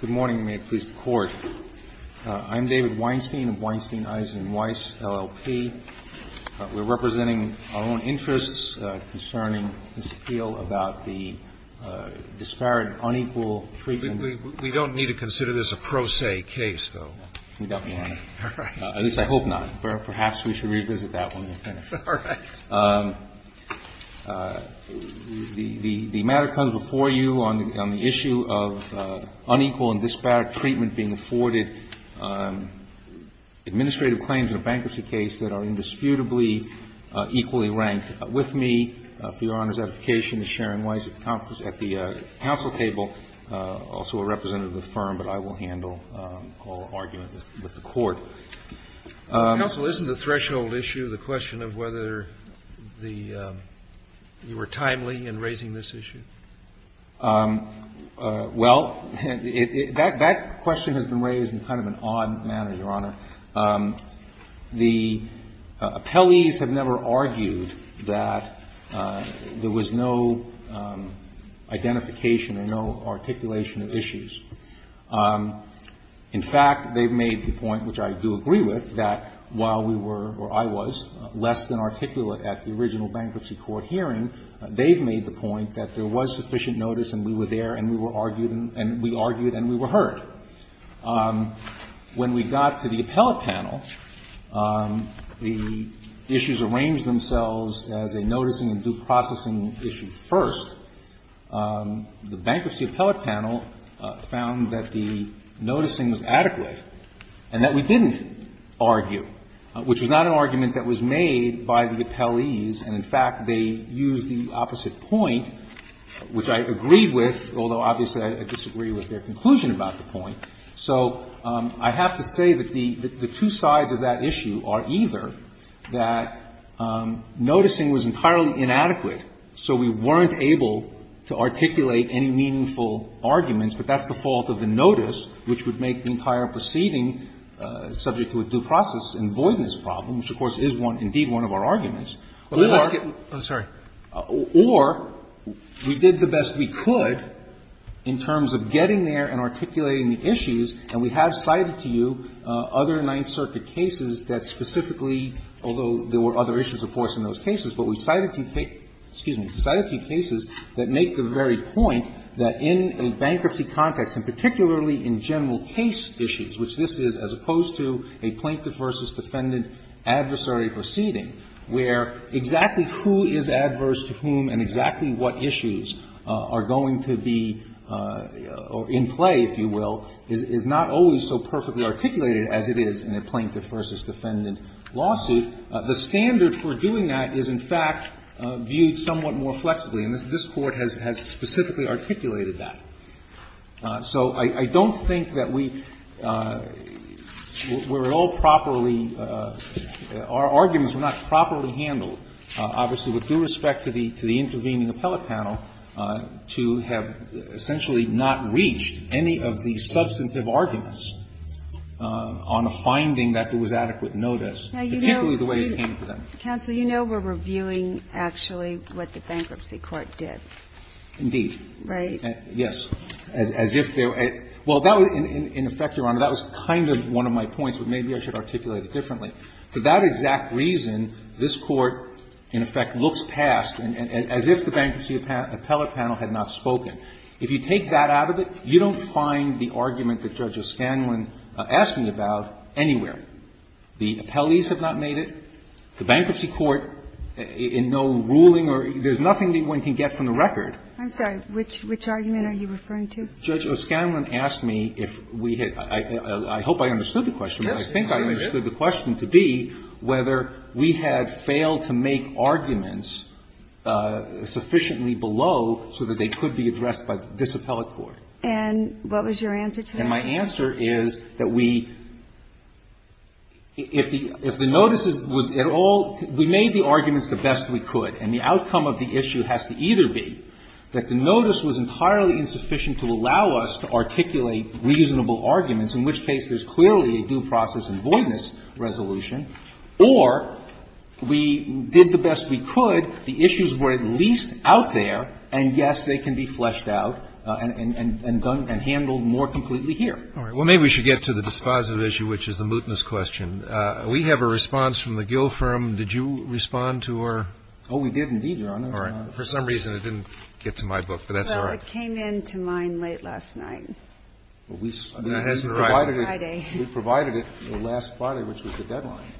Good morning, and may it please the Court. I'm David Weinstein of Weinstein, Eisen, Weiss, LLP. We're representing our own interests concerning this appeal about the disparate, unequal, frequent We don't need to consider this a pro se case, though. You got me on it. All right. At least I hope not. Perhaps we should revisit that when we're finished. All right. The matter comes before you on the issue of unequal and disparate treatment being afforded. Administrative claims in a bankruptcy case that are indisputably equally ranked. With me, for Your Honor's edification, is Sharon Weiss at the Council table, also a representative of the firm, but I will handle all argument with the Court. Counsel, isn't the threshold issue the question of whether the you were timely in raising this issue? Well, that question has been raised in kind of an odd manner, Your Honor. The appellees have never argued that there was no identification or no articulation of issues. In fact, they've made the point, which I do agree with, that while we were, or I was, less than articulate at the original bankruptcy court hearing, they've made the point that there was sufficient notice and we were there and we were argued and we argued and we were heard. When we got to the appellate panel, the issues arranged themselves as a noticing and due processing issue first. The bankruptcy appellate panel found that the noticing was adequate and that we didn't argue, which was not an argument that was made by the appellees and, in fact, they used the opposite point, which I agree with, although obviously I disagree with their conclusion about the point. So I have to say that the two sides of that issue are either that noticing was entirely inadequate, so we weren't able to articulate any meaningful arguments, but that's the fault of the notice, which would make the entire proceeding subject to a due process and voidness problem, which, of course, is indeed one of our arguments, or we did the best we could in terms of getting there and articulating the issues, and we have cited to you other Ninth Circuit cases that specifically, although there were other issues, of course, in those cases, but we cited to you cases that make the very point that in a bankruptcy context, and particularly in general case issues, which this is as opposed to a plaintiff versus defendant adversary proceeding, where exactly who is adverse to whom and exactly what issues are going to be in play, if you will, is not always so perfectly articulated as it is in a plaintiff versus defendant lawsuit. The standard for doing that is, in fact, viewed somewhat more flexibly. And this Court has specifically articulated that. So I don't think that we were all properly – our arguments were not properly handled, obviously, with due respect to the intervening appellate panel, to have essentially not reached any of the substantive arguments on a finding that there was adequate notice, particularly the way it came to them. Ginsburg. Counsel, you know we're reviewing actually what the bankruptcy court did. Indeed. Right. Yes. As if there – well, that was – in effect, Your Honor, that was kind of one of my points, but maybe I should articulate it differently. For that exact reason, this Court, in effect, looks past, as if the bankruptcy appellate panel had not spoken. If you take that out of it, you don't find the argument that Judge O'Scanlan asked me about anywhere. The appellees have not made it. The bankruptcy court in no ruling or – there's nothing that one can get from the bankruptcy court. Which argument are you referring to? Judge O'Scanlan asked me if we had – I hope I understood the question. Yes. I think I understood the question to be whether we had failed to make arguments sufficiently below so that they could be addressed by this appellate court. And what was your answer to that? And my answer is that we – if the notices was at all – we made the arguments the best we could, and the outcome of the issue has to either be that the notice was entirely insufficient to allow us to articulate reasonable arguments, in which case there's clearly a due process and voidness resolution, or we did the best we could, the issues were at least out there, and, yes, they can be fleshed out and handled more completely here. All right. Well, maybe we should get to the dispositive issue, which is the mootness question. We have a response from the Gill firm. Did you respond to our – Oh, we did, indeed, Your Honor. All right. For some reason it didn't get to my book, but that's all right. Well, it came in to mine late last night. Well, we – I mean, it hasn't arrived. Friday. We provided it last Friday, which was the deadline.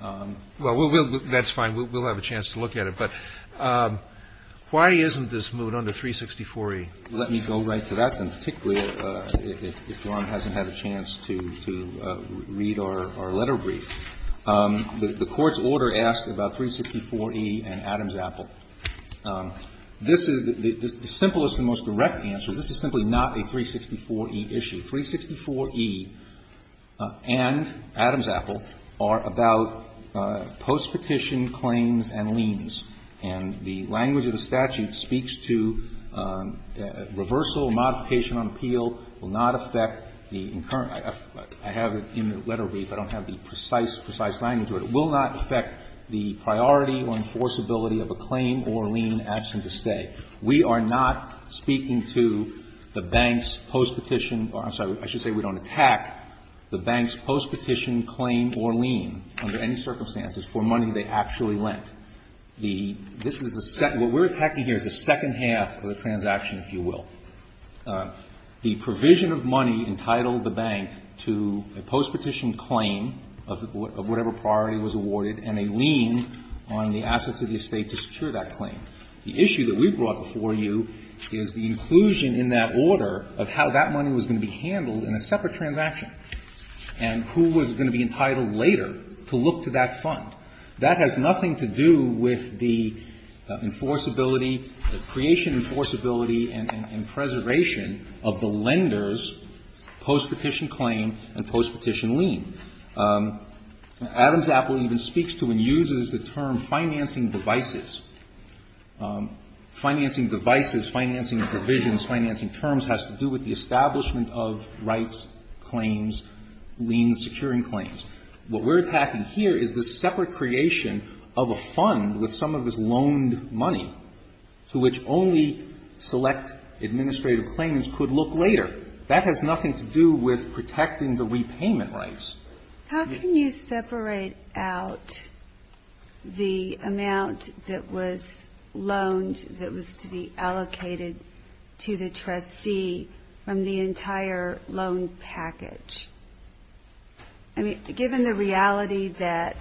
Well, we'll – that's fine. We'll have a chance to look at it. But why isn't this moot under 364E? Let me go right to that, and particularly if Ron hasn't had a chance to read our letter brief. The Court's order asks about 364E and Adams-Apple. This is the simplest and most direct answer. This is simply not a 364E issue. 364E and Adams-Apple are about postpetition claims and liens. And the language of the statute speaks to reversal, modification on appeal will not affect the – I have it in the letter brief. I don't have the precise, precise language of it. It will not affect the priority or enforceability of a claim or lien absent a stay. We are not speaking to the bank's postpetition – I'm sorry. I should say we don't attack the bank's postpetition claim or lien under any circumstances for money they actually lent. The – this is a – what we're attacking here is the second half of the transaction, if you will. The provision of money entitled the bank to a postpetition claim of whatever priority was awarded and a lien on the assets of the estate to secure that claim. The issue that we've brought before you is the inclusion in that order of how that money was going to be handled in a separate transaction and who was going to be entitled later to look to that fund. That has nothing to do with the enforceability, the creation enforceability and preservation of the lender's postpetition claim and postpetition lien. Adams Apple even speaks to and uses the term financing devices. Financing devices, financing provisions, financing terms has to do with the establishment of rights, claims, liens, securing claims. What we're attacking here is the separate creation of a fund with some of this loaned money to which only select administrative claimants could look later. That has nothing to do with protecting the repayment rights. Ginsburg-How can you separate out the amount that was loaned that was to be allocated to the trustee from the entire loan package? I mean, given the reality that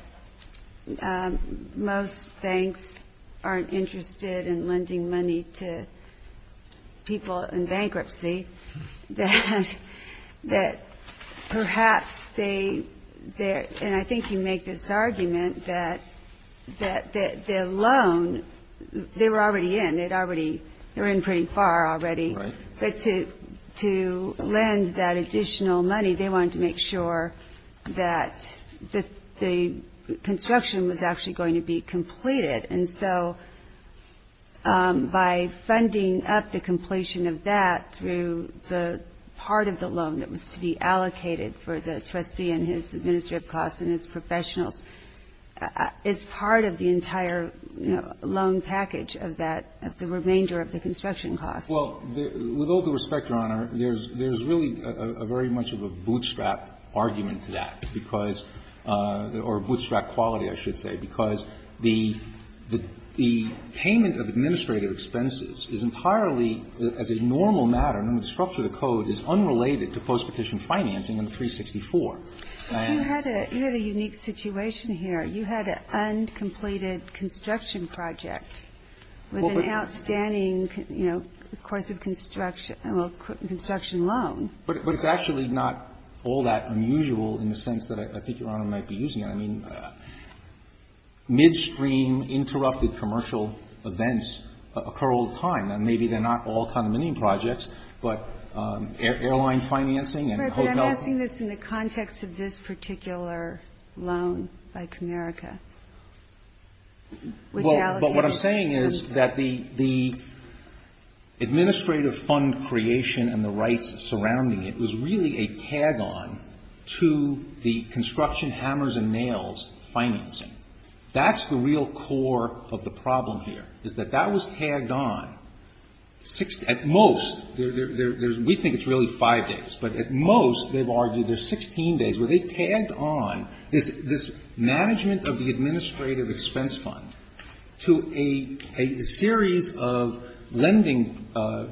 most banks aren't interested in lending money to people in bankruptcy, that perhaps they, and I think you make this argument that the loan they were already in, they were in pretty far already, but to lend that additional money, they wanted to make sure that the construction was actually going to be completed. And so by funding up the completion of that through the part of the loan that was to be allocated for the trustee and his administrative costs and his professionals, it's part of the entire, you know, loan package of that, of the remainder of the construction Well, with all due respect, Your Honor, there's really a very much of a bootstrap argument to that because, or bootstrap quality, I should say, because the payment of administrative expenses is entirely, as a normal matter, under the structure of the Code, is unrelated to postpetition financing in 364. But you had a unique situation here. You had an uncompleted construction project with an outstanding, you know, course of construction, well, construction loan. But it's actually not all that unusual in the sense that I think Your Honor might be using it. I mean, midstream interrupted commercial events occur all the time. And maybe they're not all condominium projects, but airline financing and hotel I'm asking this in the context of this particular loan by Comerica, which allocates But what I'm saying is that the administrative fund creation and the rights surrounding it was really a tag-on to the construction hammers and nails financing. That's the real core of the problem here, is that that was tagged on. At most, there's we think it's really five days, but at most, they've argued there's 16 days where they tagged on this management of the administrative expense fund to a series of lending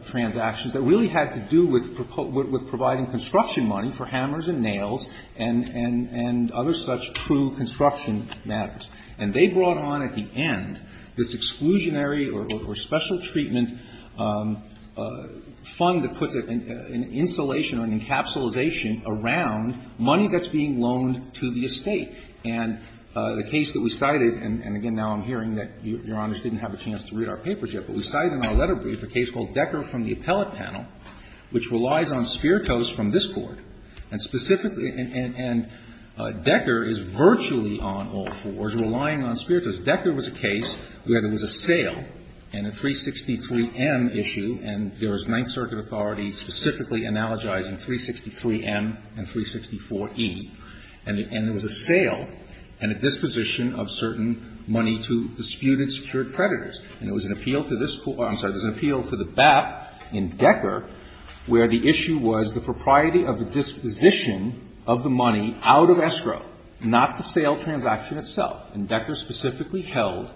transactions that really had to do with providing construction money for hammers and nails and other such true construction matters. And they brought on at the end this exclusionary or special treatment fund that puts an insulation or an encapsulation around money that's being loaned to the estate. And the case that we cited, and again, now I'm hearing that Your Honors didn't have a chance to read our papers yet, but we cited in our letter brief a case called Decker from the Appellate Panel, which relies on Spiritos from this Court. And specifically, and Decker is virtually on all fours, relying on Spiritos. Decker was a case where there was a sale in a 363M issue, and there was Ninth Circuit authorities specifically analogizing 363M and 364E. And there was a sale and a disposition of certain money to disputed secured creditors. And there was an appeal to this court or I'm sorry, there was an appeal to the BAP in Decker where the issue was the propriety of the disposition of the money out of escrow, not the sale transaction itself. And Decker specifically held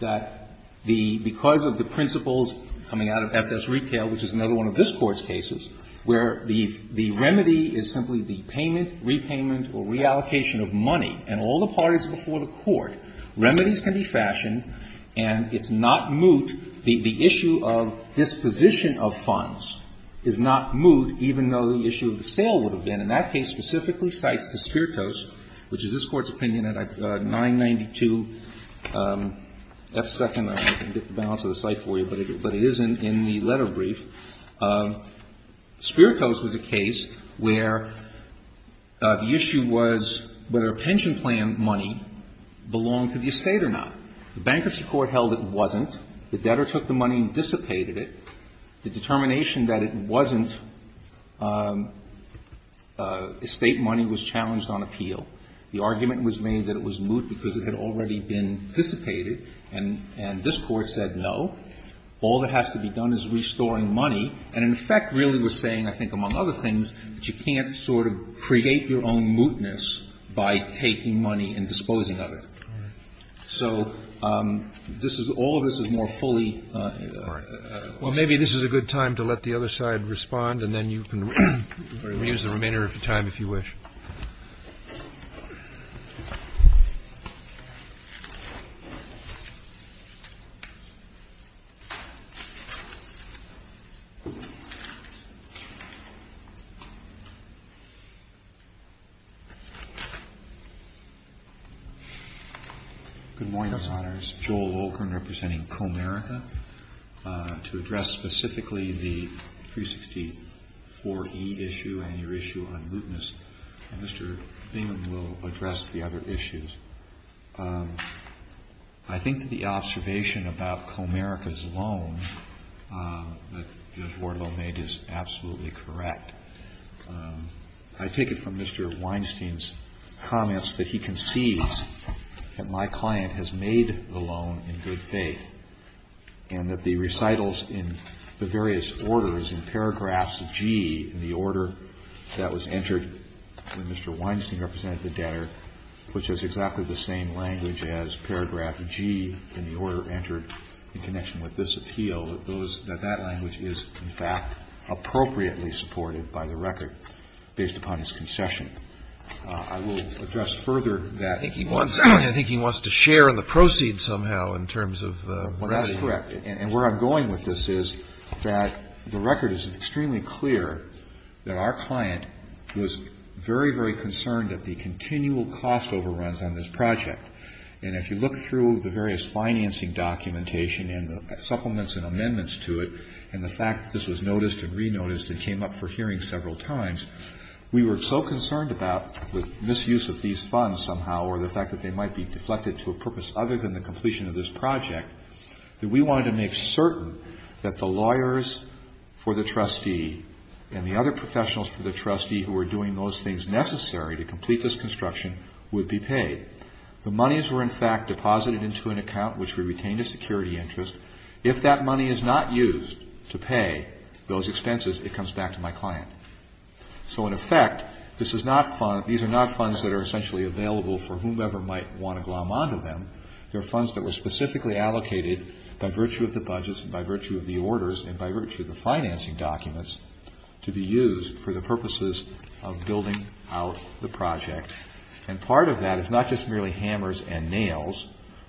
that the – because of the principles coming out of S.S. Retail, which is another one of this Court's cases, where the remedy is simply the payment, repayment, or reallocation of money. And all the parties before the Court, remedies can be fashioned and it's not moot. The issue of disposition of funds is not moot, even though the issue of the sale would have been. And that case specifically cites the Spiritos, which is this Court's opinion at 992F2nd, I don't know if I can get the balance of the site for you, but it is in the letter brief. Spiritos was a case where the issue was whether a pension plan money belonged to the estate or not. The bankruptcy court held it wasn't. The debtor took the money and dissipated it. The determination that it wasn't estate money was challenged on appeal. The argument was made that it was moot because it had already been dissipated, and this Court said no. All that has to be done is restoring money, and in effect really was saying, I think, among other things, that you can't sort of create your own mootness by taking money and disposing of it. So all of this is more fully. Well, maybe this is a good time to let the other side respond, and then you can reuse the remainder of your time if you wish. Good morning, Your Honors. Joel Olkren representing Comerica. To address specifically the 364E issue and your issue on mootness, Mr. Bingham will address the other issues. I think that the observation about Comerica's loan that Judge Wardlow made is absolutely correct. I take it from Mr. Weinstein's comments that he conceives that my client has made the loan in good faith and that the recitals in the various orders, in paragraphs G in the order that was entered when Mr. Weinstein represented the debtor, which is exactly the same language as paragraph G in the order entered in connection with this appeal, that that language is, in fact, appropriately supported by the record based upon his concession. I will address further that he wants to share in the proceeds somehow in terms of ratting. Well, that's correct. And where I'm going with this is that the record is extremely clear that our client was very, very concerned at the continual cost overruns on this project. And if you look through the various financing documentation and the supplements and amendments to it and the fact that this was noticed and re-noticed and came up for hearing several times, we were so concerned about the misuse of these funds somehow or the fact that they might be deflected to a purpose other than the completion of this project that we wanted to make certain that the lawyers for the trustee and the other professionals for the trustee who were doing those things necessary to complete this construction would be paid. The monies were, in fact, deposited into an account which we retained as security interest. If that money is not used to pay those expenses, it comes back to my client. So, in effect, this is not fund – these are not funds that are essentially available for whomever might want to glom onto them. They're funds that were specifically allocated by virtue of the budgets and by virtue of the orders and by virtue of the financing documents to be used for the purposes of building out the project. And part of that is not just merely hammers and nails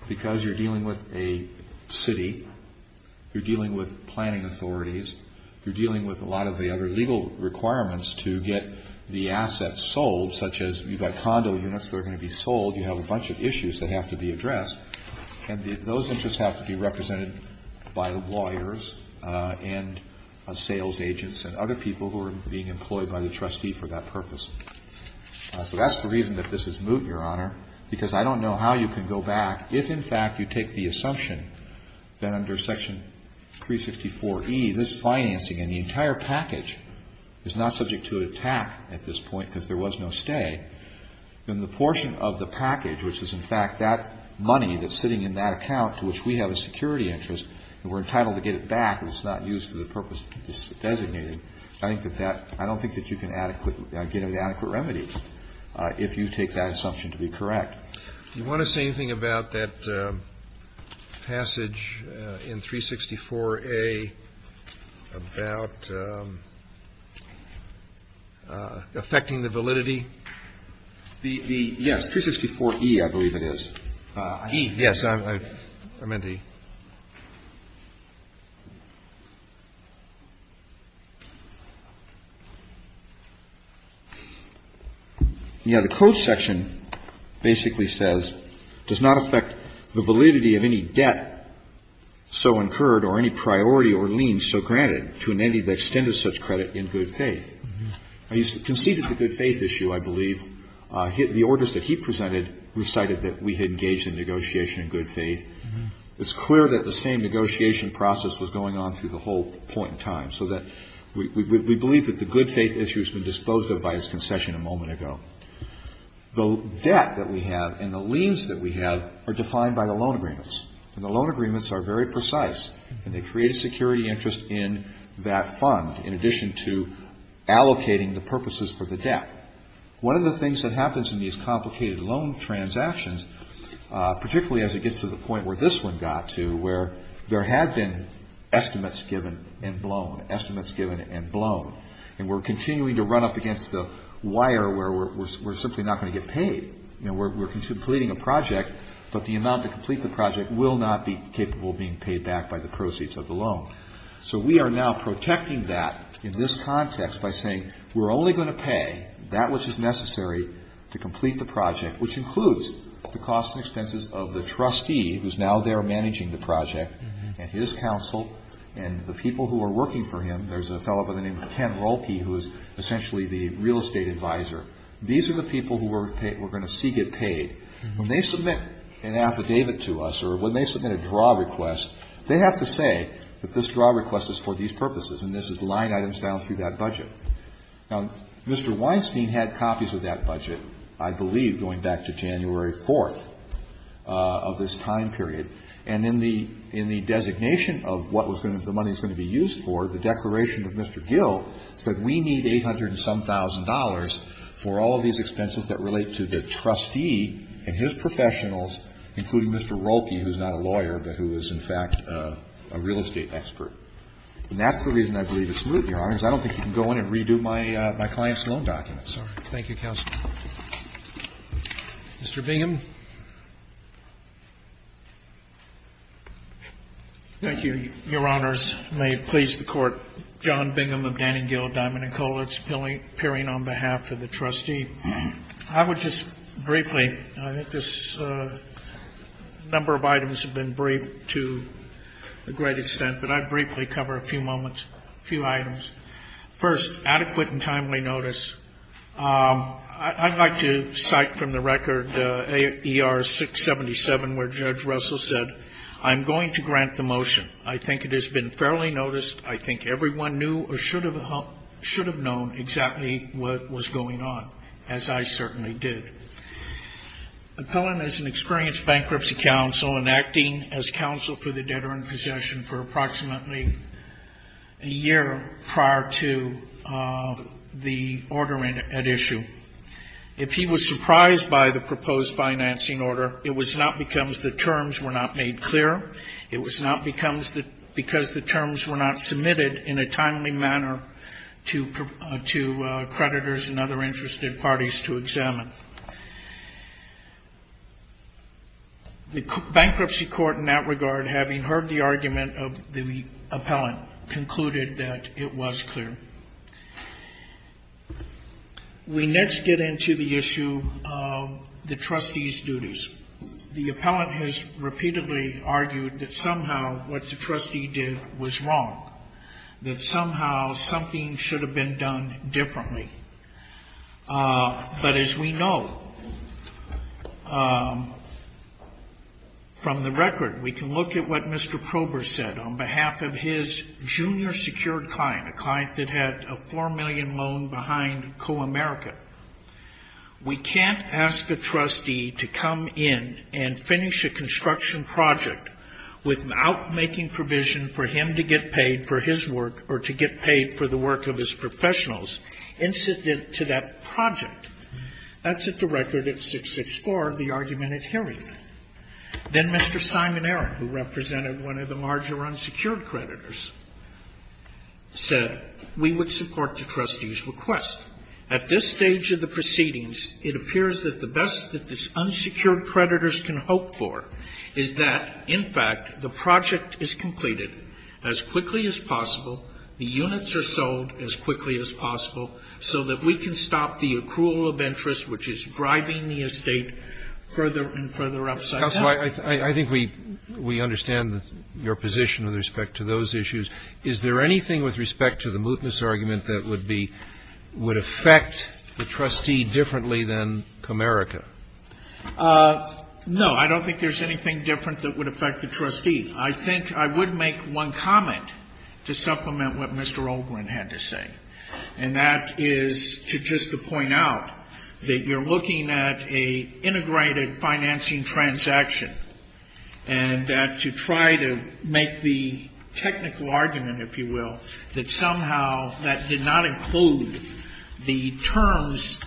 because you're dealing with a city. You're dealing with planning authorities. You're dealing with a lot of the other legal requirements to get the assets sold such as you've got condo units that are going to be sold. You have a bunch of issues that have to be addressed. And those interests have to be represented by lawyers and sales agents and other people who are being employed by the trustee for that purpose. So that's the reason that this is moot, Your Honor, because I don't know how you can go back. If, in fact, you take the assumption that under Section 364E, this financing and the entire package is not subject to attack at this point because there was no stay, then the portion of the package, which is, in fact, that money that's sitting in that account to which we have a security interest and we're entitled to get it back and it's not used for the purpose it's designated, I don't think that you can get an adequate remedy if you take that assumption to be correct. Do you want to say anything about that passage in 364A about affecting the validity? Yes. 364E, I believe it is. E. Yes. I meant to. Yeah. The code section basically says, does not affect the validity of any debt so incurred or any priority or lien so granted to an entity that extended such credit in good faith. He conceded the good faith issue, I believe. The orders that he presented recited that we had engaged in negotiation in good faith. It's clear that the same negotiation process was going on through the whole point in time so that we believe that the good faith issue has been disposed of by his concession a moment ago. The debt that we have and the liens that we have are defined by the loan agreements, and the loan agreements are very precise, and they create a security interest in that fund in addition to allocating the purposes for the debt. One of the things that happens in these complicated loan transactions, particularly as it gets to the point where this one got to, where there had been estimates given and blown, estimates given and blown, and we're continuing to run up against the wire where we're simply not going to get paid. You know, we're completing a project, but the amount to complete the project will not be capable of being paid back by the proceeds of the loan. So we are now protecting that in this context by saying we're only going to pay that which is necessary to complete the project, which includes the costs and expenses of the trustee who's now there managing the project and his counsel and the people who are working for him. There's a fellow by the name of Ken Rolke who is essentially the real estate advisor. These are the people who we're going to see get paid. When they submit an affidavit to us or when they submit a draw request, they have to say that this draw request is for these purposes and this is the line items down through that budget. Now, Mr. Weinstein had copies of that budget, I believe, going back to January 4th of this time period, and in the designation of what the money is going to be used for, the declaration of Mr. Gill said we need $800 and some thousand dollars for all of these expenses that relate to the trustee and his professionals, including Mr. Rolke, who is not a lawyer but who is, in fact, a real estate expert. And that's the reason I believe it's smooth, Your Honors. I don't think you can go in and redo my client's loan documents. Roberts. Thank you, counsel. Mr. Bingham. Thank you, Your Honors. May it please the Court, John Bingham of Danning, Gill, Diamond & Coleridge, appearing on behalf of the trustee. I would just briefly, I think this number of items have been briefed to a great extent, but I'd briefly cover a few moments, a few items. First, adequate and timely notice. I'd like to cite from the record AR-677 where Judge Russell said, I'm going to grant the motion. I think it has been fairly noticed. I think everyone knew or should have known exactly what was going on, as I certainly did. Appellant has experienced bankruptcy counsel and acting as counsel for the debtor in possession for approximately a year prior to the order at issue. If he was surprised by the proposed financing order, it was not because the terms were not made clear. It was not because the terms were not submitted in a timely manner to creditors and other interested parties to examine. The bankruptcy court in that regard, having heard the argument of the appellant, concluded that it was clear. We next get into the issue of the trustee's duties. The appellant has repeatedly argued that somehow what the trustee did was wrong, that somehow something should have been done differently. But as we know from the record, we can look at what Mr. Prober said on behalf of his junior secured client, a client that had a $4 million loan behind Co-America. We can't ask a trustee to come in and finish a construction project without making provision for him to get paid for his work or to get paid for the work of his professionals incident to that project. That's at the record at 664, the argument at hearing. Then Mr. Simon Aaron, who represented one of the larger unsecured creditors, said we would support the trustee's request. At this stage of the proceedings, it appears that the best that these unsecured creditors can hope for is that, in fact, the project is completed as quickly as possible, the units are sold as quickly as possible, so that we can stop the accrual of interest which is driving the estate further and further upside down. Roberts. I think we understand your position with respect to those issues. Is there anything with respect to the mootness argument that would affect the trustee differently than Co-America? No, I don't think there's anything different that would affect the trustee. I think I would make one comment to supplement what Mr. Olbrin had to say, and that is to just to point out that you're looking at an integrated financing transaction, and that to try to make the technical argument, if you will, that somehow that did not include the terms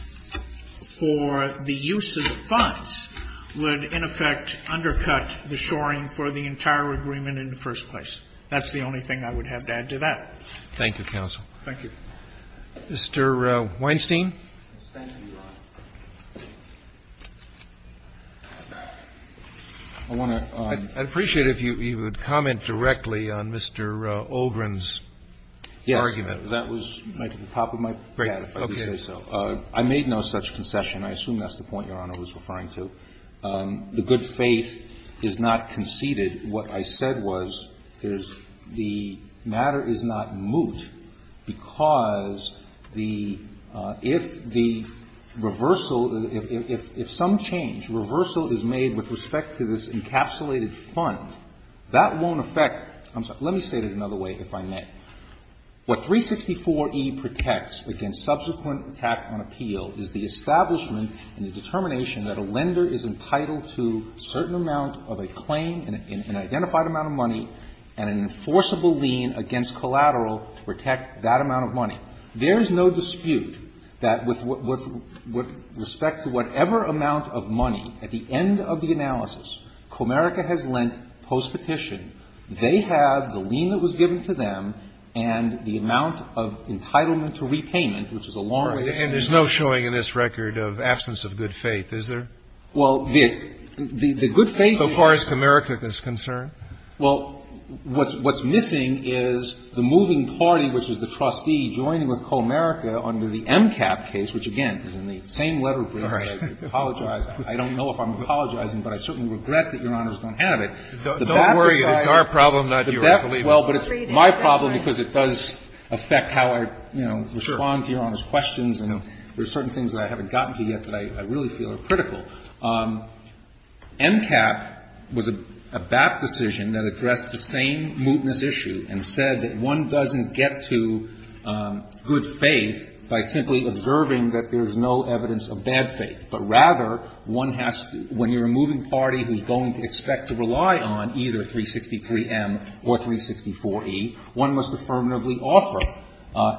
for the use of the funds would, in effect, undercut the shoring for the entire agreement in the first place. That's the only thing I would have to add to that. Thank you, counsel. Thank you. Mr. Weinstein. I'd appreciate it if you would comment directly on Mr. Olbrin's argument. Yes. That was at the top of my packet, if I may say so. I made no such concession. I assume that's the point Your Honor was referring to. The good faith is not conceded. What I said was the matter is not moot because if the reversal, if some change, reversal is made with respect to this encapsulated fund, that won't affect. I'm sorry. Let me say it another way, if I may. What 364e protects against subsequent attack on appeal is the establishment and the determination that a lender is entitled to a certain amount of a claim and an identified amount of money and an enforceable lien against collateral to protect that amount of money. There is no dispute that with respect to whatever amount of money at the end of the analysis Comerica has lent postpetition, they have the lien that was given to them and the amount of entitlement to repayment, which is a long way to finish. And there's no showing in this record of absence of good faith, is there? Well, the good faith is not. So far as Comerica is concerned? Well, what's missing is the moving party, which is the trustee, joining with Comerica under the MCAP case, which, again, is in the same letter brief. I apologize. I don't know if I'm apologizing, but I certainly regret that Your Honors don't have it. Don't worry. It's our problem, not yours, believe me. Well, but it's my problem because it does affect how I, you know, respond to Your Honor. There are certain things that I haven't gotten to yet that I really feel are critical. MCAP was a BAP decision that addressed the same mootness issue and said that one doesn't get to good faith by simply observing that there's no evidence of bad faith, but rather one has to, when you're a moving party who's going to expect to rely on either 363M or 364E, one must affirmatively offer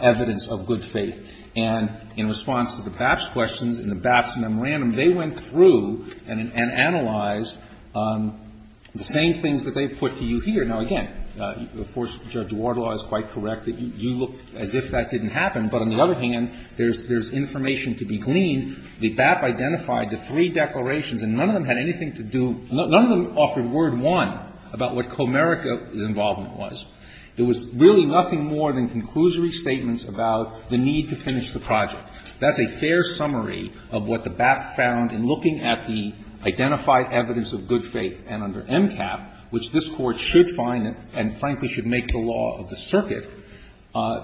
evidence of good faith. And in response to the BAP's questions and the BAP's memorandum, they went through and analyzed the same things that they've put to you here. Now, again, of course, Judge Wardlaw is quite correct that you look as if that didn't happen, but on the other hand, there's information to be gleaned. The BAP identified the three declarations, and none of them had anything to do — none of them offered word, one, about what Comerica's involvement was. There was really nothing more than conclusory statements about the need to finish the project. That's a fair summary of what the BAP found in looking at the identified evidence of good faith. And under MCAP, which this Court should find and, frankly, should make the law of the circuit,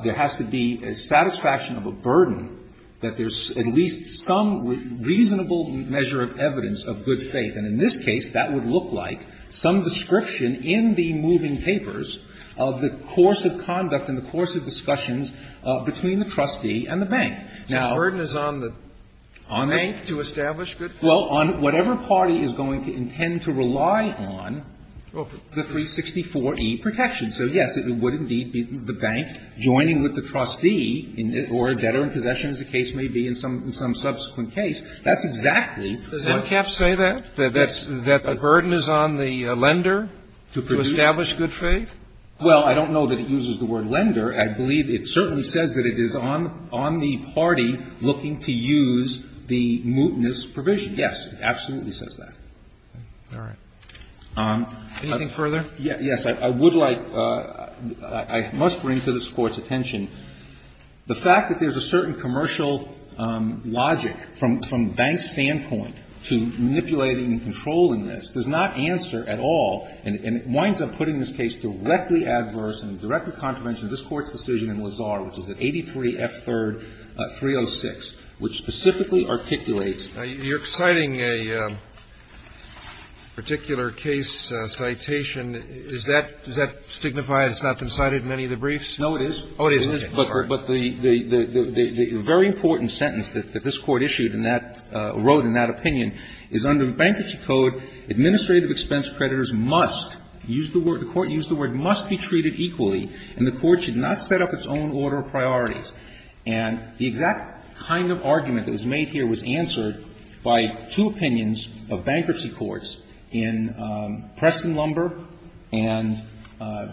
there has to be a satisfaction of a burden that there's at least some reasonable measure of evidence of good faith. And in this case, that would look like some description in the moving papers of the course of conduct and the course of discussions between the trustee and the bank. Now — So the burden is on the bank to establish good faith? Well, on whatever party is going to intend to rely on the 364e protection. So, yes, it would indeed be the bank joining with the trustee or a debtor in possession, as the case may be in some subsequent case. That's exactly — Does MCAP say that, that the burden is on the lender to establish good faith? Well, I don't know that it uses the word lender. I believe it certainly says that it is on the party looking to use the mootness provision. Yes, it absolutely says that. All right. Anything further? Yes. I would like — I must bring to this Court's attention the fact that there's a certain commercial logic from the bank's standpoint to manipulating and controlling this does not answer at all, and it winds up putting this case directly adverse and directly contravention of this Court's decision in Lazard, which is at 83F3-306, which specifically articulates — You're citing a particular case citation. Is that — does that signify it's not been cited in any of the briefs? No, it is. Oh, it is. But the very important sentence that this Court issued in that — wrote in that opinion is under the Bankruptcy Code, administrative expense creditors must — to use the word — the Court used the word — must be treated equally, and the Court should not set up its own order of priorities. And the exact kind of argument that was made here was answered by two opinions of bankruptcy courts in Preston Lumber and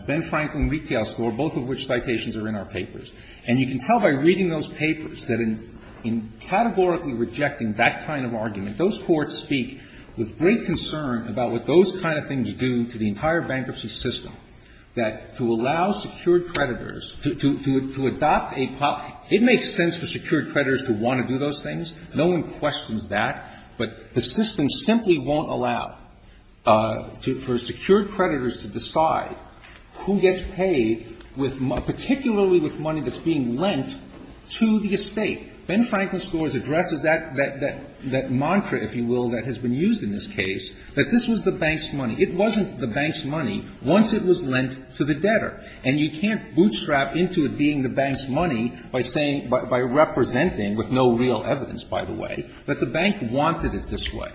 Ben Franklin Retail Store, both of which citations are in our papers. And you can tell by reading those papers that in categorically rejecting that kind of argument, those courts speak with great concern about what those kind of things do to the entire bankruptcy system, that to allow secured creditors to — to adopt a — it makes sense for secured creditors to want to do those things. No one questions that, but the system simply won't allow to — for secured creditors to decide who gets paid with — particularly with money that's being lent to the estate. Ben Franklin Stores addresses that — that — that mantra, if you will, that has been used in this case, that this was the bank's money. It wasn't the bank's money once it was lent to the debtor. And you can't bootstrap into it being the bank's money by saying — by representing with no real evidence, by the way — that the bank wanted it this way.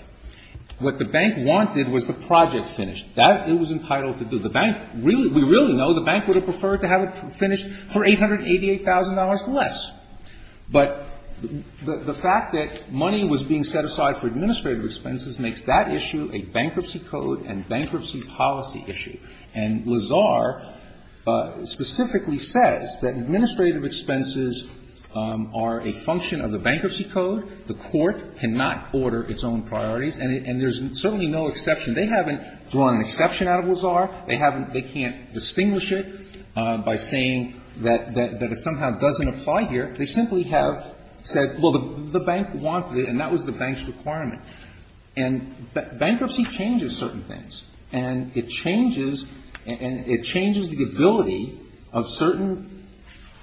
What the bank wanted was the project finished. That it was entitled to do. The bank — we really know the bank would have preferred to have it finished for $888,000 less. But the fact that money was being set aside for administrative expenses makes that issue a bankruptcy code and bankruptcy policy issue. And Lazar specifically says that administrative expenses are a function of the bankruptcy code. The court cannot order its own priorities. And there's certainly no exception. They haven't drawn an exception out of Lazar. They haven't — they can't distinguish it by saying that it somehow doesn't apply here. They simply have said, well, the bank wanted it, and that was the bank's requirement. And bankruptcy changes certain things. And it changes — and it changes the ability of certain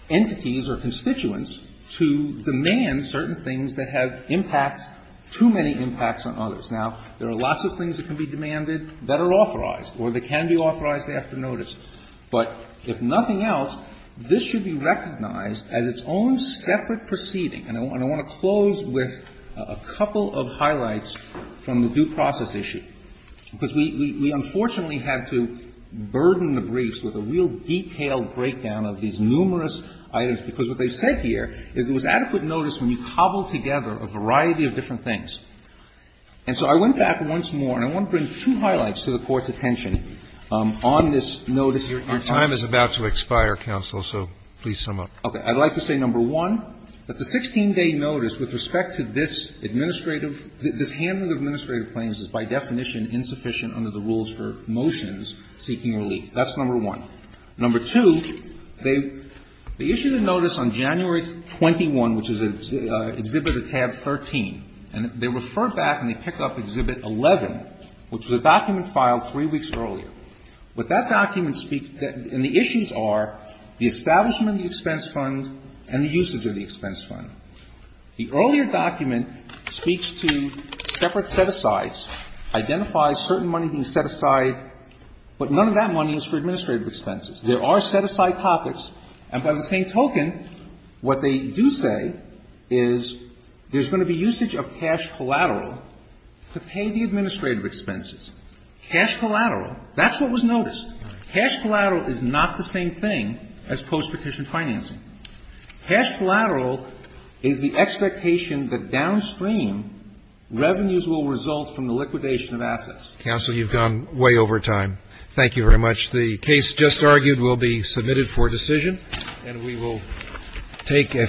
entities or constituents to demand certain things that have impacts — too many impacts on others. Now, there are lots of things that can be demanded that are authorized. Or that can be authorized after notice. But if nothing else, this should be recognized as its own separate proceeding. And I want to close with a couple of highlights from the due process issue. Because we unfortunately had to burden the briefs with a real detailed breakdown of these numerous items, because what they said here is there was adequate notice when you cobbled together a variety of different things. And so I went back once more, and I want to bring two highlights to the Court's attention on this notice here. Your time is about to expire, counsel, so please sum up. Okay. I'd like to say, number one, that the 16-day notice with respect to this administrative — this handling of administrative claims is, by definition, insufficient under the rules for motions seeking relief. That's number one. Number two, they issued a notice on January 21, which is an exhibit of tab 13, and they refer back and they pick up exhibit 11, which was a document filed three weeks earlier. What that document speaks — and the issues are the establishment of the expense fund and the usage of the expense fund. The earlier document speaks to separate set-asides, identifies certain money being set aside, but none of that money is for administrative expenses. There are set-aside pockets, and by the same token, what they do say is there's going to be usage of cash collateral to pay the administrative expenses. Cash collateral, that's what was noticed. Cash collateral is not the same thing as postpetition financing. Cash collateral is the expectation that downstream, revenues will result from the liquidation of assets. Counsel, you've gone way over time. Thank you very much. The case just argued will be submitted for decision, and we will take a five-minute recess.